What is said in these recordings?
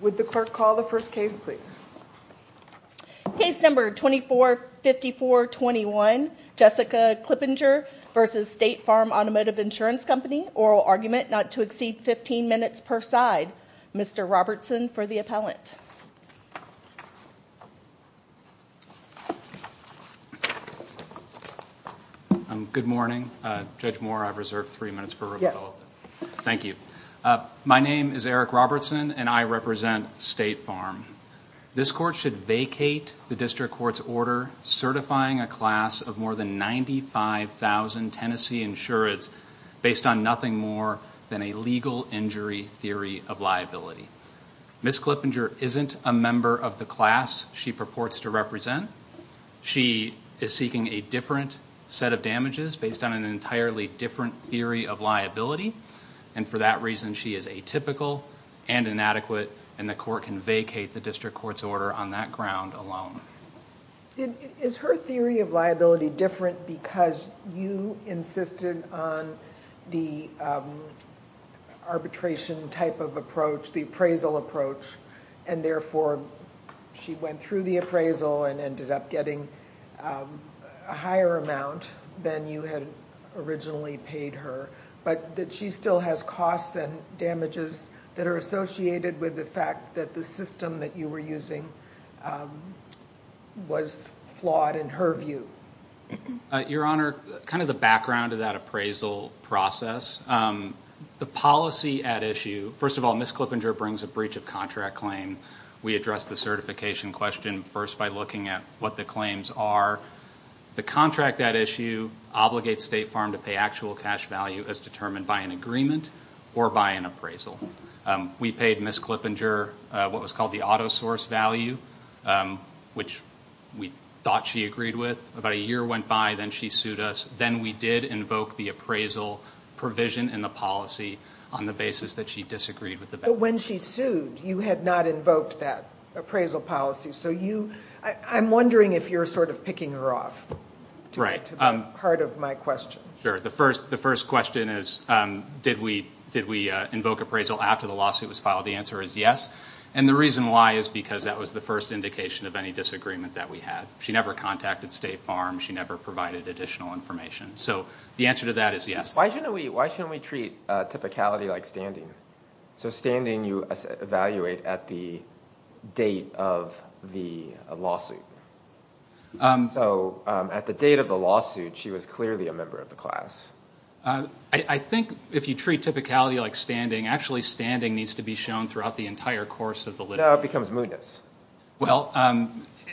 Would the clerk call the first case, please? Case number 245421, Jessica Clippinger v. State Farm Automotive Insurance Company, oral argument not to exceed 15 minutes per side. Mr. Robertson for the appellant. Good morning. Judge Moore, I've reserved three minutes for rebuttal. Thank you. My name is Eric Robertson and I represent State Farm. This court should vacate the district court's order certifying a class of more than 95,000 Tennessee insureds based on nothing more than a legal injury theory of liability. Ms. Clippinger isn't a member of the class she purports to represent. She is seeking a different set of damages based on an entirely different theory of liability and for that reason she is atypical and inadequate and the court can vacate the district court's order on that ground alone. Is her theory of liability different because you insisted on the arbitration type of approach, the appraisal approach, and therefore she went through the appraisal and ended up getting a higher amount than you had originally paid her but that she still has costs and damages that are associated with the fact that the system that you were using was flawed in her view? Your honor, kind of the background of that appraisal process, the policy at issue, first of all Ms. Clippinger brings a breach of contract claim. We addressed the certification question first by looking at what the claims are. The actual cash value is determined by an agreement or by an appraisal. We paid Ms. Clippinger what was called the auto source value which we thought she agreed with. About a year went by, then she sued us, then we did invoke the appraisal provision in the policy on the basis that she disagreed with the bank. But when she sued you had not invoked that appraisal policy so you, I'm wondering if you're sort of picking her off to that part of my question. Sure, the first question is did we invoke appraisal after the lawsuit was filed? The answer is yes and the reason why is because that was the first indication of any disagreement that we had. She never contacted State Farm, she never provided additional information, so the answer to that is yes. Why shouldn't we treat typicality like standing? So standing you evaluate at the date of the lawsuit. So at the date of the lawsuit she was clearly a member of the class. I think if you treat typicality like standing, actually standing needs to be shown throughout the entire course of the litigation. No, it becomes moodness. Well,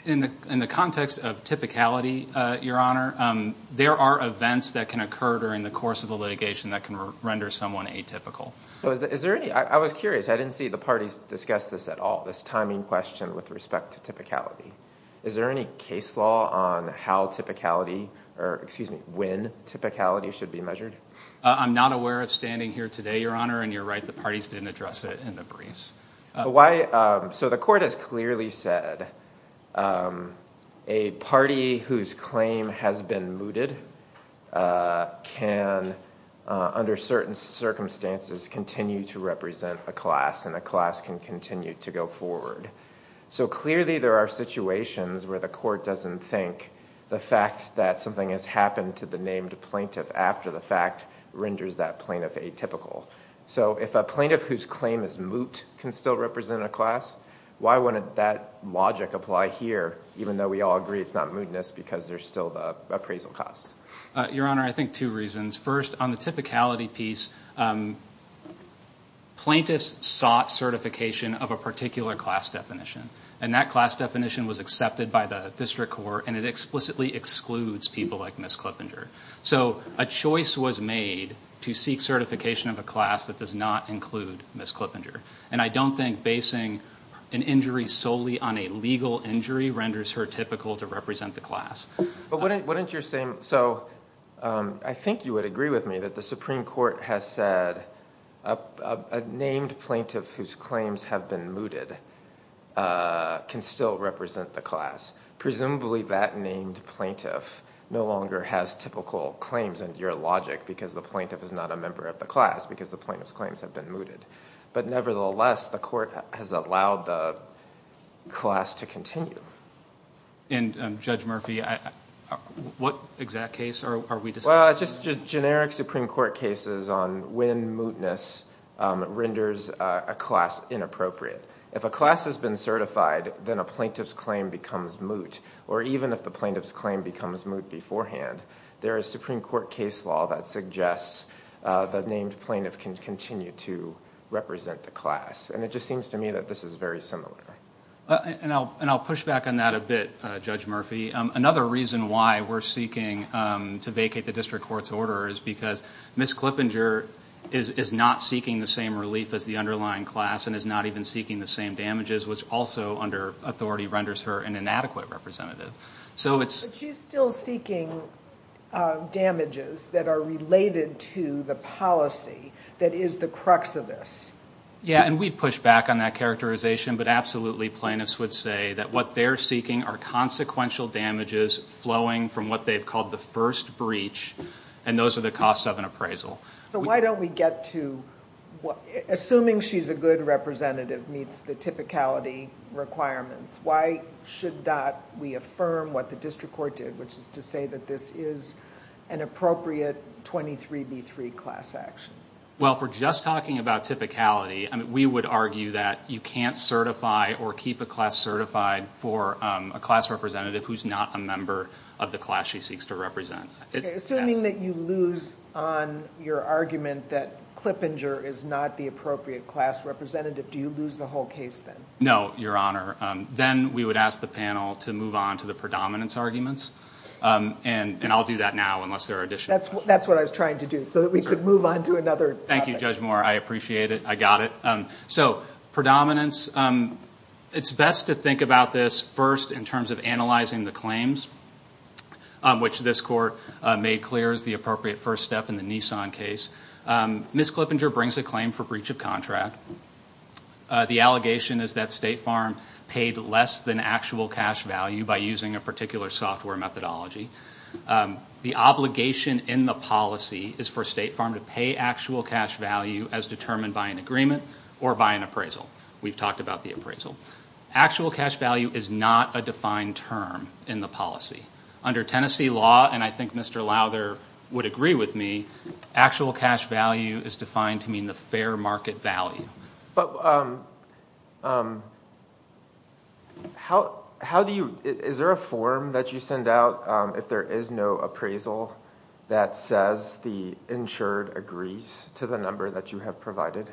in the context of typicality, your honor, there are events that can occur during the course of the litigation that can render someone atypical. So is there any, I was curious, I didn't see the parties discuss this at all, this timing question with respect to typicality. Is there any case law on how typicality or excuse me, when typicality should be measured? I'm not aware of standing here today, your honor, and you're right the parties didn't address it in the briefs. Why, so the court has clearly said a party whose claim has been mooted can under certain circumstances continue to represent a class and a class can continue to go forward. So clearly there are situations where the court doesn't think the fact that something has happened to the named plaintiff after the fact renders that plaintiff atypical. So if a plaintiff whose claim is moot can still represent a class, why wouldn't that logic apply here even though we all agree it's not moodness because there's still the appraisal cost? Your honor, I think two reasons. First, on the typicality piece, plaintiffs sought certification of a particular class definition and that class definition was accepted by the district court and it explicitly excludes people like Ms. Clippinger. So a choice was made to seek certification of a class that does not include Ms. Clippinger and I don't think an injury solely on a legal injury renders her typical to represent the class. But wouldn't you're saying, so I think you would agree with me that the Supreme Court has said a named plaintiff whose claims have been mooted can still represent the class. Presumably that named plaintiff no longer has typical claims in your logic because the plaintiff is not a member of the class because the plaintiff's claims have been mooted. But nevertheless, the court has allowed the class to continue. And Judge Murphy, what exact case are we discussing? Well, it's just generic Supreme Court cases on when mootness renders a class inappropriate. If a class has been certified, then a plaintiff's claim becomes moot or even if the plaintiff's claim becomes moot beforehand, there is Supreme Court case law that suggests the named plaintiff can continue to represent the class. And it just seems to me that this is very similar. And I'll push back on that a bit, Judge Murphy. Another reason why we're seeking to vacate the district court's order is because Ms. Clippinger is not seeking the same relief as the underlying class and is not even seeking the same damages, which also under authority renders her an inadequate representative. But she's still seeking damages that are related to the policy that is the crux of this. Yeah, and we'd push back on that characterization, but absolutely plaintiffs would say that what they're seeking are consequential damages flowing from what they've called the first breach, and those are the costs of an appraisal. So why don't we get to, assuming she's a good district court, to confirm what the district court did, which is to say that this is an appropriate 23B3 class action? Well, if we're just talking about typicality, we would argue that you can't certify or keep a class certified for a class representative who's not a member of the class she seeks to represent. Assuming that you lose on your argument that Clippinger is not the appropriate class representative, do you lose the whole case then? No, Your Honor. Then we would ask the panel to move on to the predominance arguments, and I'll do that now unless there are additional questions. That's what I was trying to do, so that we could move on to another topic. Thank you, Judge Moore. I appreciate it. I got it. So predominance, it's best to think about this first in terms of analyzing the claims, which this court made clear is the appropriate first step in the Nissan case. Ms. Clippinger brings a claim for breach of contract. The allegation is that State Farm paid less than actual cash value by using a particular software methodology. The obligation in the policy is for State Farm to pay actual cash value as determined by an agreement or by an appraisal. We've talked about the appraisal. Actual cash value is not a defined term in the policy. Under Tennessee law, and I think Mr. Lowther would agree with me, actual cash value is defined to mean the fair market value. Is there a form that you send out if there is no appraisal that says the insured agrees to the number that you have provided?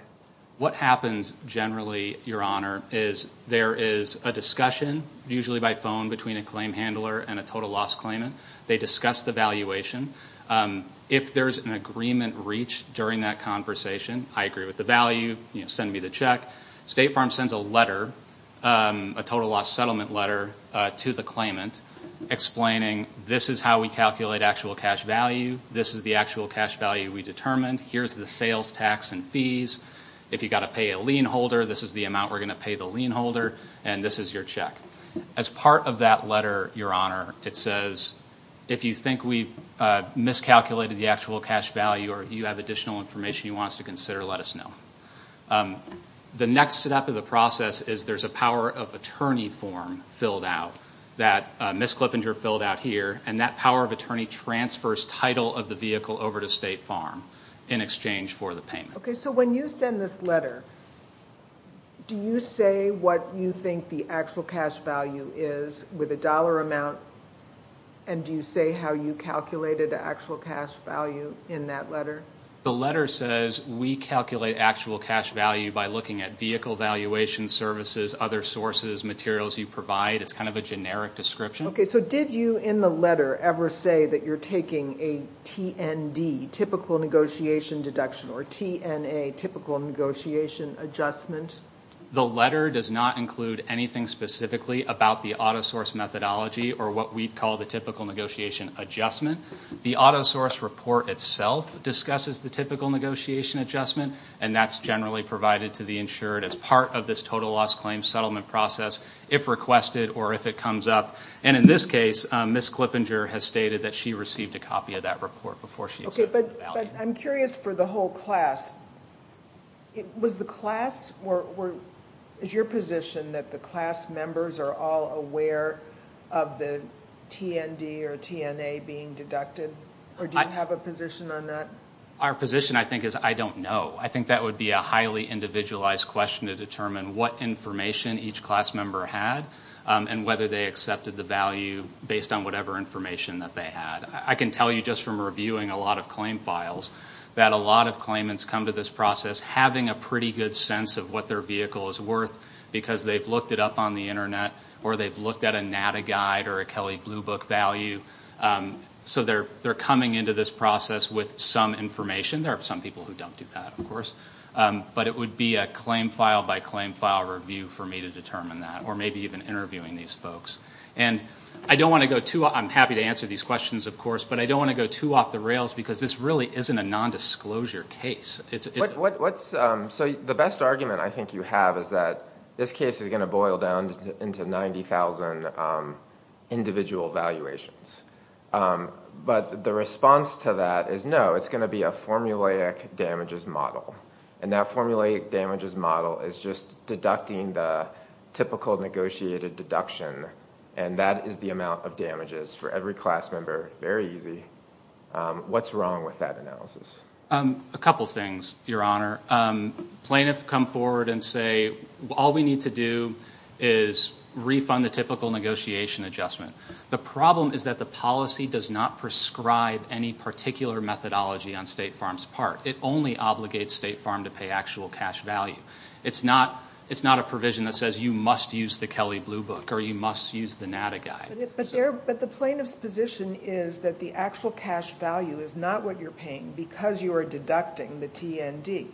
What happens generally, Your Honor, is there is a discussion, usually by phone, between a claim handler and a total loss claimant. They discuss the valuation. If there's an agreement reached during that conversation, I agree with the value, send me the check. State Farm sends a letter, a total loss settlement letter to the claimant explaining this is how we calculate actual cash value. This is the actual cash value we determined. Here's the sales tax and fees. If you've got to pay a lien holder, this is the amount we're going to pay the lien holder, and this is your check. As part of that letter, Your Honor, if you think we've miscalculated the actual cash value or if you have additional information you want us to consider, let us know. The next step of the process is there's a power of attorney form filled out that Ms. Clippinger filled out here, and that power of attorney transfers title of the vehicle over to State Farm in exchange for the payment. When you send this letter, do you say what you think the actual cash value is with a dollar amount, and do you say how you calculated the actual cash value in that letter? The letter says we calculate actual cash value by looking at vehicle valuation services, other sources, materials you provide. It's kind of a generic description. Okay, so did you in the letter ever say that you're taking a TND, Typical Negotiation Deduction, or TNA, Typical Negotiation Adjustment? The letter does not include anything specifically about the auto source methodology or what we'd call the Typical Negotiation Adjustment. The auto source report itself discusses the Typical Negotiation Adjustment, and that's generally provided to the insured as part of this total loss claim settlement process if requested or if it comes up. In this case, Ms. Clippinger has stated that she received a that report before she accepted the value. Okay, but I'm curious for the whole class. Was the class or is your position that the class members are all aware of the TND or TNA being deducted, or do you have a position on that? Our position, I think, is I don't know. I think that would be a highly individualized question to determine what information each class member had and whether they accepted the value based on whatever information that they had. I can tell you just from reviewing a lot of claim files that a lot of claimants come to this process having a pretty good sense of what their vehicle is worth because they've looked it up on the internet or they've looked at a NATA guide or a Kelley Blue Book value. So they're coming into this process with some information. There are some people who don't do that, of course, but it would be a claim file by claim file review for me to determine that or maybe even interviewing these folks. And I don't want to go too... I'm happy to answer these questions, of course, but I don't want to go too off the rails because this really isn't a nondisclosure case. It's... So the best argument I think you have is that this case is going to boil down into 90,000 individual valuations. But the response to that is no, it's going to be a formulaic damages model. And that formulaic damages model is just deducting the typical negotiated deduction. And that is the amount of damages for every class member. Very easy. What's wrong with that analysis? A couple things, Your Honor. Plaintiff come forward and say, all we need to do is refund the typical negotiation adjustment. The problem is that the policy does not prescribe any particular methodology on State Farm's part. It only obligates State Farm to pay actual cash value. It's not a provision that says you must use the Kelly Blue Book or you must use the NADA guide. But the plaintiff's position is that the actual cash value is not what you're paying because you are deducting the TND.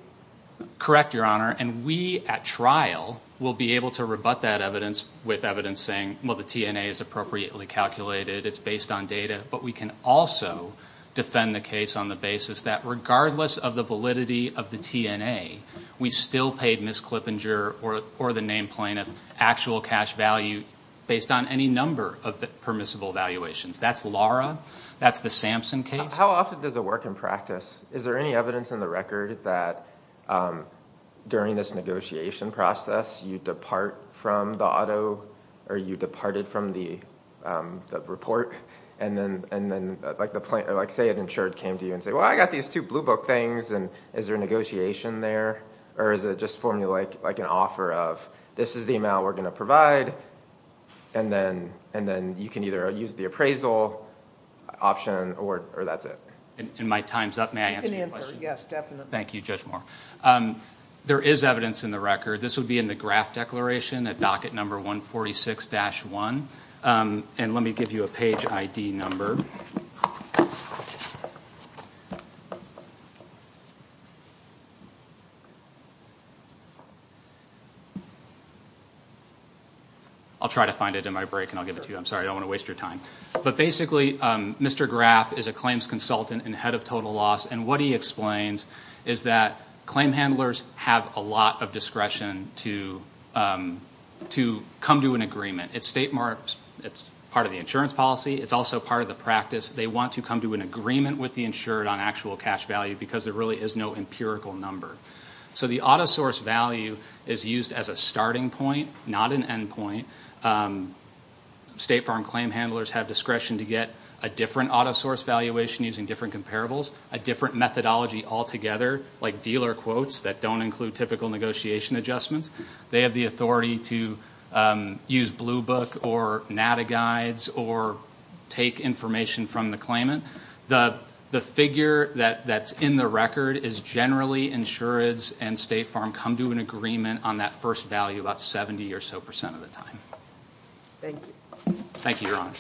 Correct, Your Honor. And we at trial will be able to rebut that evidence with evidence saying, well, the TNA is appropriately calculated. It's based on data. But we can also defend the case on the basis that regardless of the validity of the TNA, we still paid Ms. Klippinger or the named plaintiff actual cash value based on any number of permissible valuations. That's Lara. That's the Sampson case. How often does it work in practice? Is there any evidence in the record that during this negotiation process you depart from the auto or you departed from the report? And then like say an insured came to you and say, well, I got these two Blue Book things. And is there a negotiation there? Or is it just formally like an offer of this is the amount we're going to provide. And then you can either use the appraisal option or that's it. In my time's up, may I answer your question? You can answer. Yes, definitely. Thank you, Judge Moore. There is evidence in the record. This would be in the graph declaration at docket number 146-1. And let me give you a page ID number. I'll try to find it in my break and I'll give it to you. I'm sorry. I don't want to waste your time. But basically, Mr. Graf is a claims consultant and head of total loss. And what he explains is that claim handlers have a lot of discretion to come to an agreement. It's part of the insurance policy. It's also part of the practice. They want to come to an agreement with the insured on actual cash value because there really is no empirical number. So the auto source value is used as a starting point, not an end point. State farm claim handlers have discretion to get a different auto source valuation using different comparables, a different methodology altogether like dealer quotes that don't include typical negotiation adjustments. They have the authority to use blue book or nada guides or take information from the claimant. The figure that's in the record is generally insured and state farm come to an agreement on that first value about 70 or so percent of the time. Thank you. Thank you, Your Honor.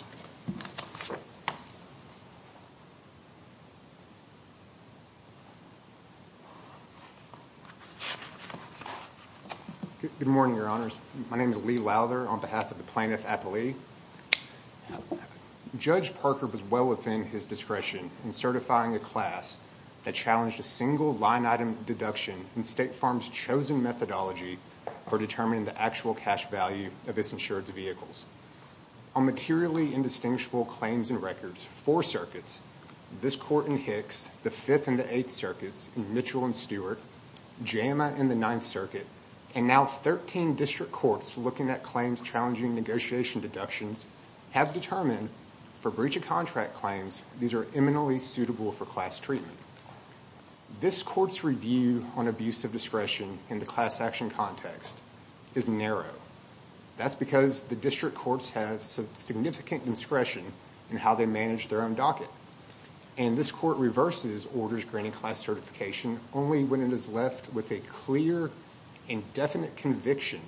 Good morning, Your Honors. My name is Lee Lowther on behalf of the plaintiff, Apolli. Judge Parker was well within his discretion in certifying a class that challenged a single line item deduction in state farm's chosen methodology for determining the actual cash value of its records. Four circuits, this court in Hicks, the fifth and the eighth circuits in Mitchell and Stewart, JAMA in the ninth circuit, and now 13 district courts looking at claims challenging negotiation deductions have determined for breach of contract claims, these are eminently suitable for class treatment. This court's review on abuse of discretion in the class action context is narrow. That's because the district courts have some significant discretion in how they manage their own docket. This court reverses orders granting class certification only when it is left with a clear and definite conviction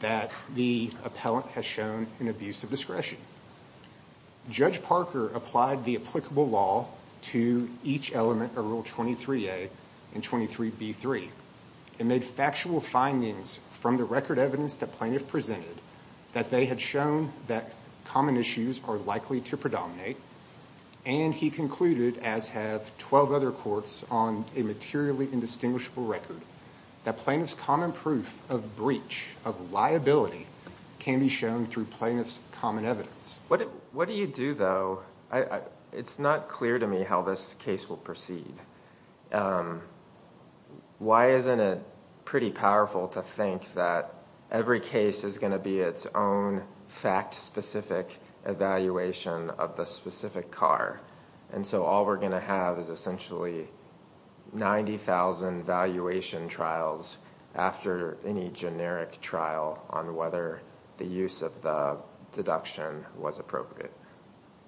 that the appellant has shown an abuse of discretion. Judge Parker applied the applicable law to each element of Rule 23A and 23B3 and made factual findings from the record evidence that plaintiff presented that they had shown that common issues are likely to predominate, and he concluded, as have 12 other courts on a materially indistinguishable record, that plaintiff's common proof of breach of liability can be shown through plaintiff's common evidence. What do you do though? It's not clear to me how this case will proceed. Why isn't it pretty powerful to think that every case is going to be its own fact-specific evaluation of the specific car, and so all we're going to have is essentially 90,000 valuation trials after any generic trial on whether the use of the deduction was appropriate?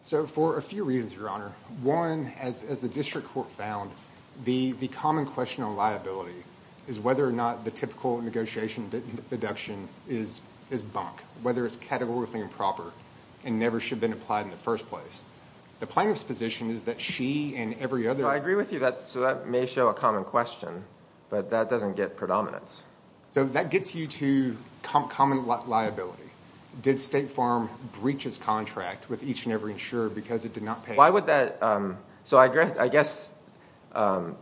For a few reasons, Your Honor. One, as the district court found, the common question on liability is whether or not the typical negotiation deduction is bunk, whether it's categorically improper and never should have been applied in the first place. The plaintiff's position is that she and every other... I agree with you, so that may show a common question, but that doesn't get So that gets you to common liability. Did State Farm breach its contract with each and every insurer because it did not pay? So I guess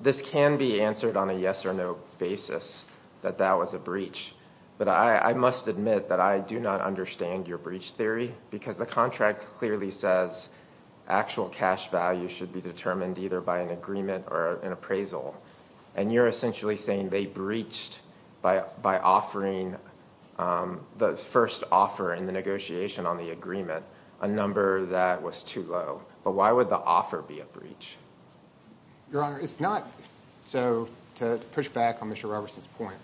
this can be answered on a yes or no basis that that was a breach, but I must admit that I do not understand your breach theory because the contract clearly says actual cash value should be determined either by an agreement or an appraisal, and you're essentially saying they breached by offering the first offer in the negotiation on the agreement a number that was too low, but why would the offer be a breach? Your Honor, it's not. So to push back on Mr. Robertson's point,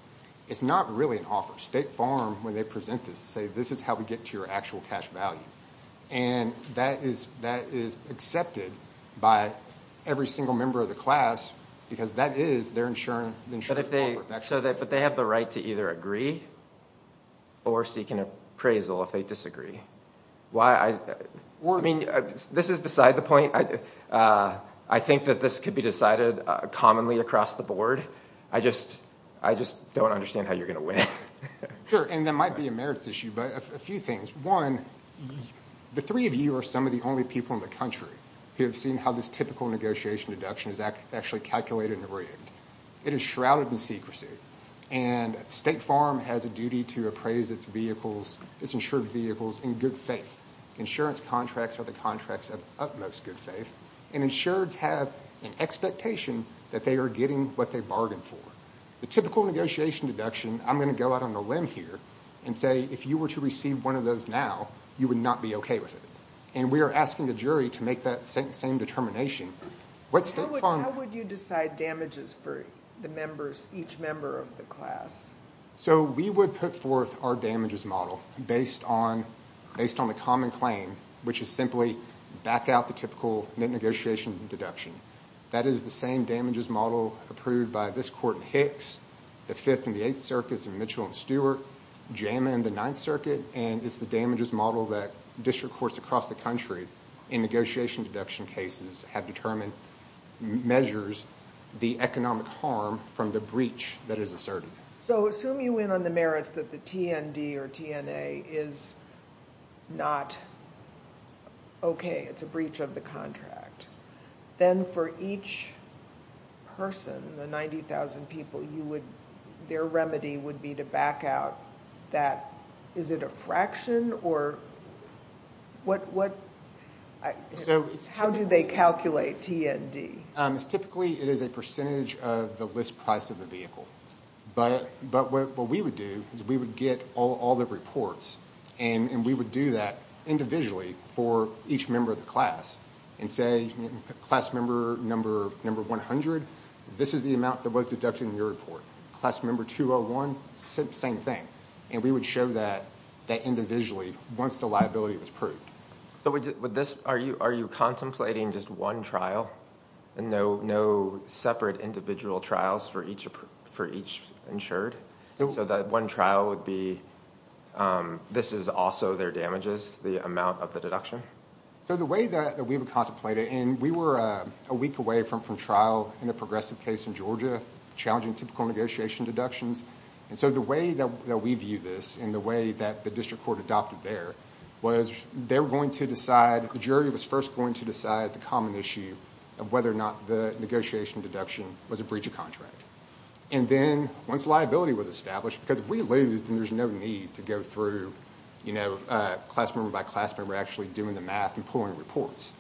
it's not really an offer. State Farm, when they present this, say this is how we get to your actual cash value, and that is accepted by every single member of the class because that is their insurance. But they have the right to either agree or seek an appraisal if they disagree. I mean, this is beside the point. I think that this could be decided commonly across the board. I just don't understand how you're going to win. Sure, and that might be a merits issue, but a few things. One, the three of you are some of the only people in the country who have seen how this typical negotiation deduction is actually calculated and arraigned. It is shrouded in secrecy, and State Farm has a duty to appraise its insured vehicles in good faith. Insurance contracts are the contracts of utmost good faith, and insureds have an expectation that they are getting what they bargained for. The typical negotiation deduction, I'm going to go out on a limb here and say if you were to receive one of those now, you would not be okay with it. And we are asking the jury to make that same determination. How would you decide damages for the members, each member of the class? So we would put forth our damages model based on the common claim, which is simply back out the typical negotiation deduction. That is the same damages model approved by this court in Hicks, the Fifth and the Eighth Circuits in Mitchell and Stewart, JAMA in the Ninth Circuit, and it's the courts across the country in negotiation deduction cases have determined measures, the economic harm from the breach that is asserted. So assume you win on the merits that the TND or TNA is not okay, it's a breach of the contract. Then for each person, the 90,000 people, their remedy would be to back out that, is it a fraction? How do they calculate TND? Typically, it is a percentage of the list price of the vehicle. But what we would do is we would get all the reports and we would do that individually for each member of the class and say, class member number 100, this is the amount that was deducted in your report. Class member 201, same thing. We would show that individually once the liability was proved. Are you contemplating just one trial and no separate individual trials for each insured? So that one trial would be, this is also their damages, the amount of the deduction? So the way that we would contemplate it, and we were a week away from trial in a progressive case in Georgia, challenging typical negotiation deductions. And so the way that we view this and the way that the district court adopted there was they were going to decide, the jury was first going to decide the common issue of whether or not the negotiation deduction was a breach of contract. And then once liability was established, because if we lose, then there's no need to go through class member by class member actually doing the math and pulling reports.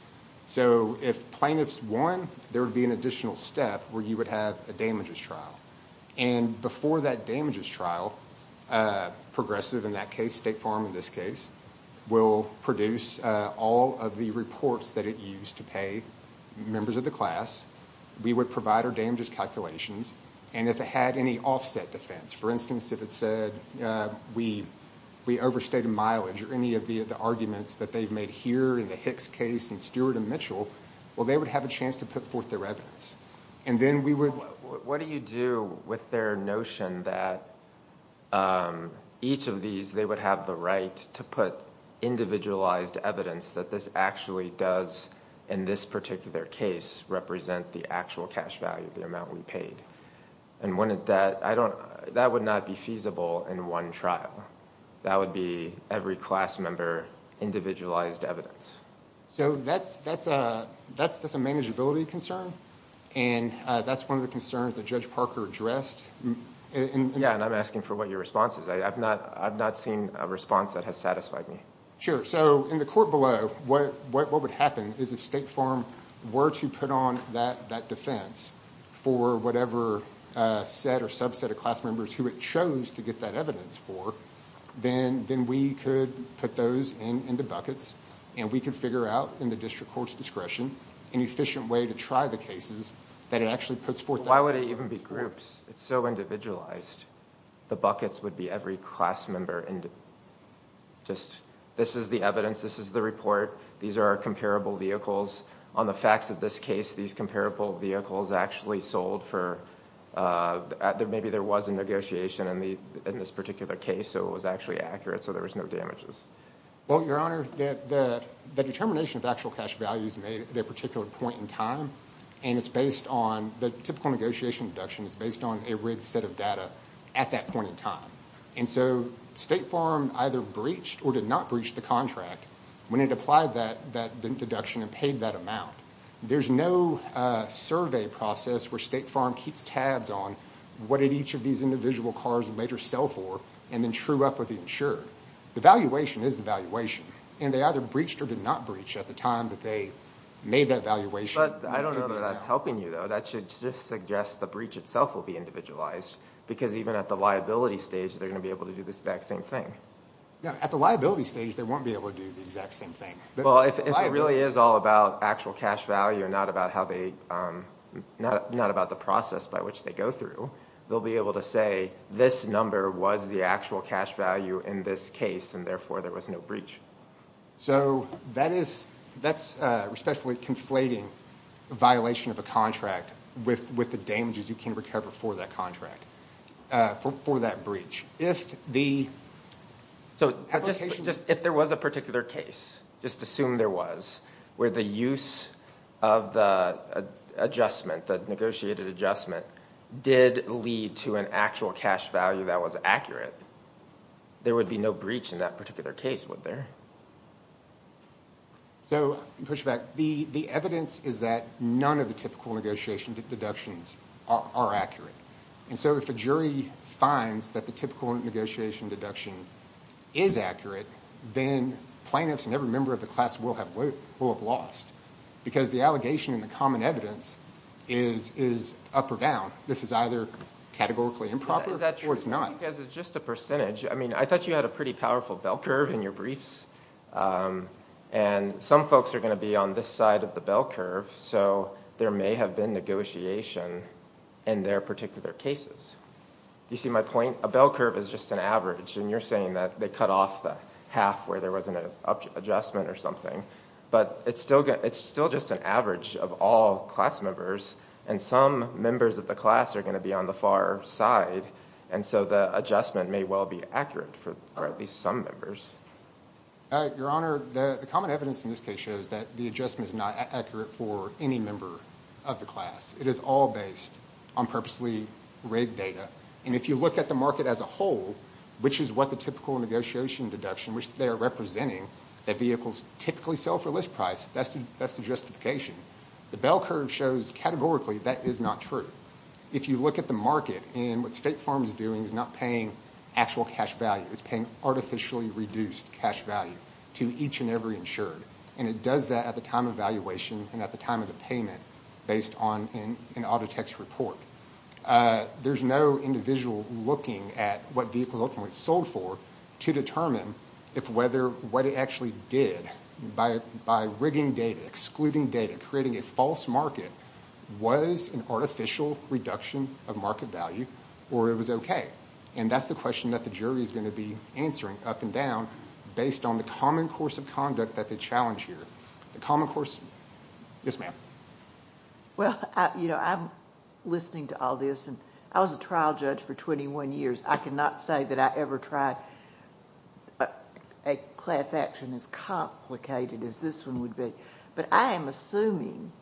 So if plaintiffs won, there would be an additional step where you would have a damages trial. And before that damages trial, progressive in that case, State Farm in this case, will produce all of the reports that it used to pay members of the class. We would provide our damages calculations. And if it had any offset defense, for instance, if it said we overstated mileage or any of the arguments that they've made here in the Hicks case and Stewart and Mitchell, well, they would have a chance to put forth their evidence. And then we would... Well, what do you do with their notion that each of these, they would have the right to put individualized evidence that this actually does, in this particular case, represent the actual cash value, the amount we paid? And wouldn't that... that would not be feasible in one trial. That would be every class member individualized evidence. So that's a manageability concern. And that's one of the concerns that Judge Parker addressed. Yeah, and I'm asking for what your response is. I've not seen a response that has satisfied me. Sure. So in the court below, what would happen is if State Farm were to put on that defense for whatever set or subset of class members who it chose to get that evidence for, then we could put those into buckets and we could figure out, in the district court's discretion, an efficient way to try the cases that it actually puts forth... Why would it even be groups? It's so individualized. The buckets would be every class member. This is the evidence. This is the report. These are our comparable vehicles. On the facts of this case, these comparable vehicles actually sold for... maybe there was a negotiation in this particular case, so it was actually accurate, so there was no damages. Well, Your Honor, the determination of actual cash values made at that particular point in time, and it's based on... the typical negotiation deduction is based on a rigged set of data at that point in time. And so State Farm either breached or did not breach the contract when it applied that deduction and paid that amount. There's no survey process where State Farm keeps tabs on what did each of these individual cars later sell for and then true up with the insurer. The valuation is the valuation, and they either breached or did not breach at the time that they made that valuation. But I don't know that that's helping you, though. That should just suggest the breach itself will be individualized, because even at the liability stage, they're going to be able to do the exact same thing. No, at the liability stage, they won't be able to do the exact same thing. Well, if it really is all about actual cash value and not about how they... not about the process by which they go through, they'll be able to say, this number was the actual cash value in this case, and therefore there was no breach. So that is... that's a respectfully conflating violation of a contract with the damages you can cover for that contract, for that breach. If the... So if there was a particular case, just assume there was, where the use of the adjustment, the negotiated adjustment, did lead to an actual cash value that was accurate, there would be no breach in that particular case, would there? Okay. So, pushback. The evidence is that none of the typical negotiation deductions are accurate. And so if a jury finds that the typical negotiation deduction is accurate, then plaintiffs and every member of the class will have lost, because the allegation and the common evidence is up or down. This is either categorically improper or it's not. Is that true? Because it's just a percentage. I mean, I thought you had a pretty powerful bell curve in your briefs, and some folks are going to be on this side of the bell curve, so there may have been negotiation in their particular cases. You see my point? A bell curve is just an average, and you're saying that they cut off the half where there wasn't an adjustment or something, but it's still just an average of all class members, and some members of the class are going to be on the far side, and so the adjustment may well be accurate for at least some members. Your Honor, the common evidence in this case shows that the adjustment is not accurate for any member of the class. It is all based on purposely rigged data, and if you look at the market as a whole, which is what the typical negotiation deduction, which they are representing, that vehicles typically sell for list price, that's the justification. The bell curve shows, categorically, that is not true. If you look at the market and what State Farm is doing is not paying actual cash value. It's paying artificially reduced cash value to each and every insured, and it does that at the time of valuation and at the time of the payment based on an auto tech's report. There's no individual looking at what vehicles ultimately sold for to determine if what it actually did by rigging data, excluding data, creating a false market, was an artificial reduction of market value, or it was okay. That's the question that the jury is going to be answering, up and down, based on the common course of conduct that they challenge here. The common course... Yes, ma'am. Well, I'm listening to all this, and I was a trial judge for twenty-one years. I cannot say that I tried a class action as complicated as this one would be, but I am assuming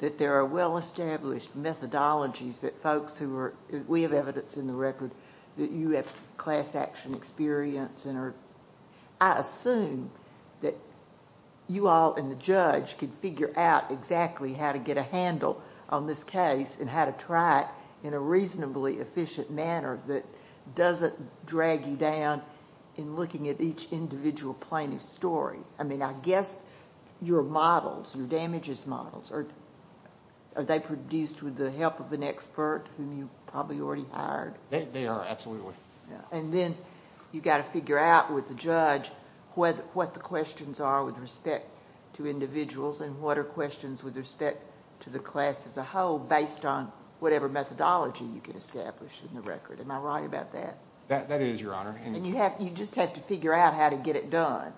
that there are well-established methodologies that folks who are... We have evidence in the record that you have class action experience and are... I assume that you all and the judge could figure out exactly how to get a handle on this case and how to try it in a reasonably efficient manner that doesn't drag you down in looking at each individual plaintiff's story. I guess your models, your damages models, are they produced with the help of an expert whom you probably already hired? They are, absolutely. Then, you've got to figure out with the judge what the questions are with respect to individuals and what are questions with respect to the class as a whole based on whatever methodology you can establish in the record. Am I right about that? That is, Your Honor. You just have to figure out how to get it done.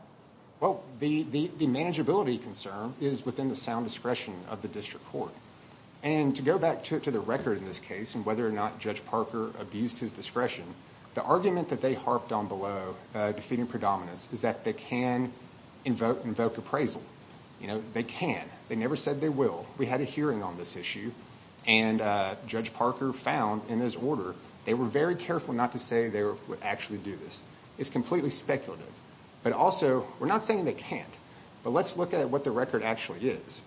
Well, the manageability concern is within the sound discretion of the district court. To go back to the record in this case and whether or not Judge Parker abused his discretion, the argument that they harped on below, defeating predominance, is that they can invoke appraisal. They can. They never said they will. We had a hearing on this issue, and Judge Parker found in his order, they were very careful not to say they would actually do this. It's completely speculative. Also, we're not saying they can't, but let's look at what the record actually is.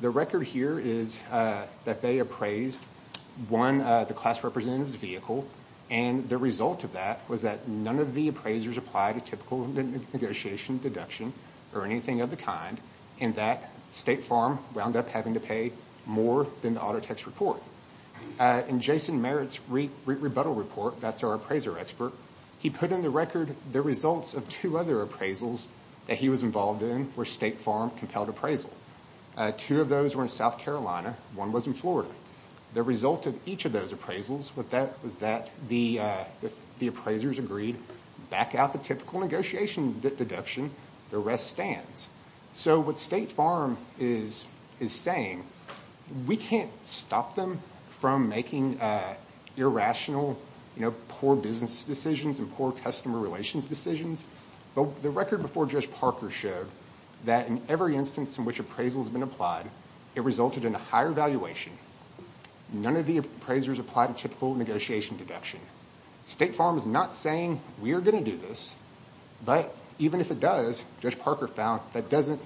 The record here is that they appraised the class representative's vehicle, and the result of that was that none of the appraisers applied a typical negotiation deduction or anything of the kind, and that State Farm wound up having to pay more than the auto tax report. In Jason Merritt's REIT rebuttal report, that's our appraiser expert, he put in the record the results of two other appraisals that he was involved in where State Farm compelled appraisal. Two of those were in South Carolina. One was in Florida. The result of each of those appraisals was that the appraisers agreed, back out the typical negotiation deduction, the rest stands. What State Farm is saying, we can't stop them from making irrational, poor business decisions and poor customer relations decisions. The record before Judge Parker showed that in every instance in which appraisal has been applied, it resulted in a higher valuation. None of the appraisers applied a typical negotiation deduction. State Farm is not saying, we are going to do this, but even if it does, Judge Parker found that doesn't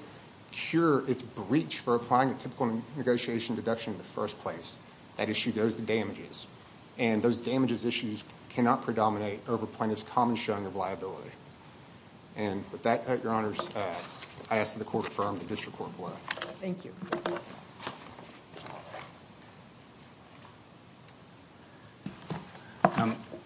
cure its breach for applying a typical negotiation deduction in the first place. That issue goes to damages, and those damages issues cannot predominate over plaintiff's common showing of liability. With that, Your Honors, I ask that the court affirm the district court plea. Thank you.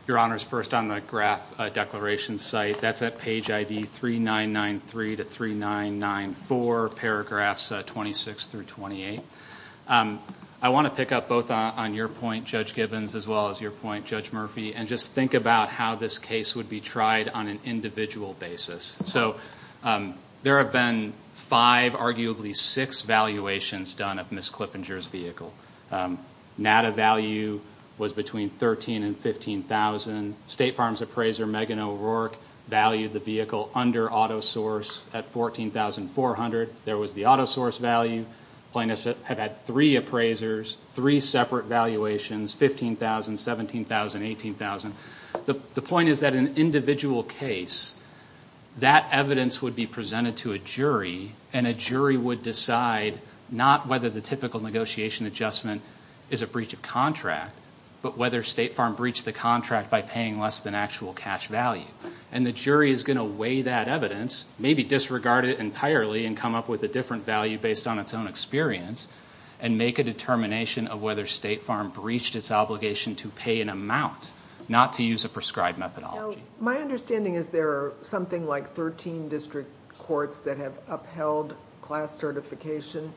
Your Honors, first on the graph declaration site, that's at page ID 3993 to 3994, paragraphs 26 through 28. I want to pick up both on your point, Judge Gibbons, as well as your point, Judge Murphy, and just think about how this case would be tried on an individual basis. There have been five, six valuations done of Ms. Clippinger's vehicle. NADA value was between $13,000 and $15,000. State Farm's appraiser, Megan O'Rourke, valued the vehicle under auto source at $14,400. There was the auto source value. Plaintiffs have had three appraisers, three separate valuations, $15,000, $17,000, $18,000. The point is that an individual case, that evidence would be presented to a jury, and a jury would decide not whether the typical negotiation adjustment is a breach of contract, but whether State Farm breached the contract by paying less than actual cash value. The jury is going to weigh that evidence, maybe disregard it entirely, and come up with a different value based on its own experience, and make a determination of whether State Farm breached its obligation to pay an amount, not to use a prescribed methodology. My understanding is there are something like 13 district courts that have upheld class certification,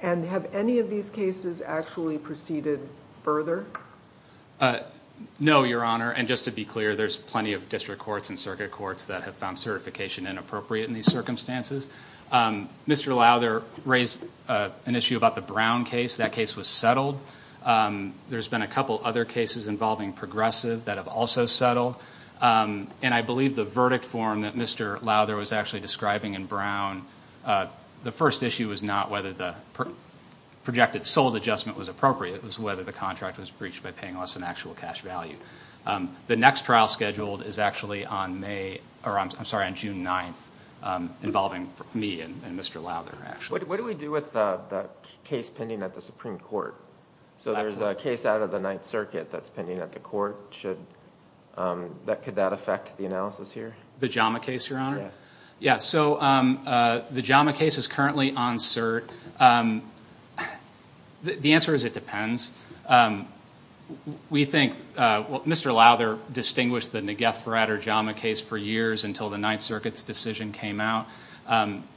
and have any of these cases actually proceeded further? No, Your Honor, and just to be clear, there's plenty of district courts and circuit courts that have found certification inappropriate in these circumstances. Mr. Lowther raised an issue about the Brown case. That case was settled. There's been a couple other cases involving Progressive that have also settled. I believe the verdict form that Mr. Lowther was actually describing in Brown, the first issue was not whether the projected sold adjustment was appropriate, it was whether the contract was breached by paying less than actual cash value. The next trial scheduled is actually on June 9th, involving me and Mr. Lowther, actually. What do we do with the case pending at the Supreme Court? There's a case out of the Ninth Circuit Court. Could that affect the analysis here? The JAMA case, Your Honor? Yes. The JAMA case is currently on cert. The answer is, it depends. We think, Mr. Lowther distinguished the Negeth-Bradder JAMA case for years until the Ninth Circuit's decision came out.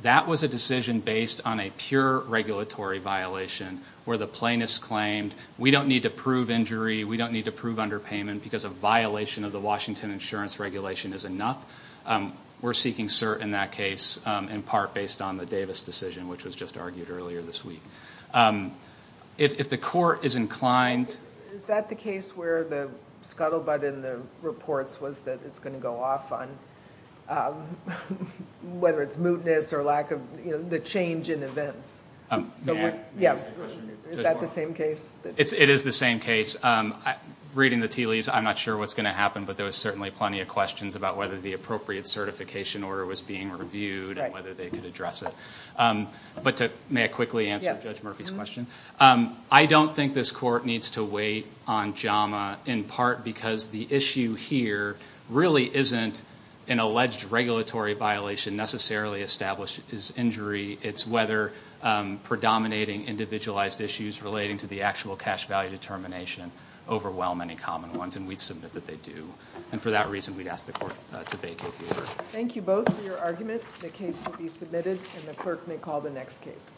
That was a decision based on a pure regulatory violation, where the plaintiffs claimed, we don't need to prove injury, we don't need to prove underpayment, because a violation of the Washington insurance regulation is enough. We're seeking cert in that case, in part based on the Davis decision, which was just argued earlier this week. If the court is inclined... Is that the case where the scuttlebutt in the reports was that it's going to go off on, whether it's or lack of... The change in events. May I ask a question? Is that the same case? It is the same case. Reading the tea leaves, I'm not sure what's going to happen, but there was certainly plenty of questions about whether the appropriate certification order was being reviewed and whether they could address it. May I quickly answer Judge Murphy's question? I don't think this court needs to wait on JAMA, in part because the issue here really isn't an alleged regulatory violation necessarily establishes injury. It's whether predominating individualized issues relating to the actual cash value determination overwhelm any common ones, and we'd submit that they do. For that reason, we'd ask the court to vacate the order. Thank you both for your argument. The case will be submitted, and the clerk may call the next case.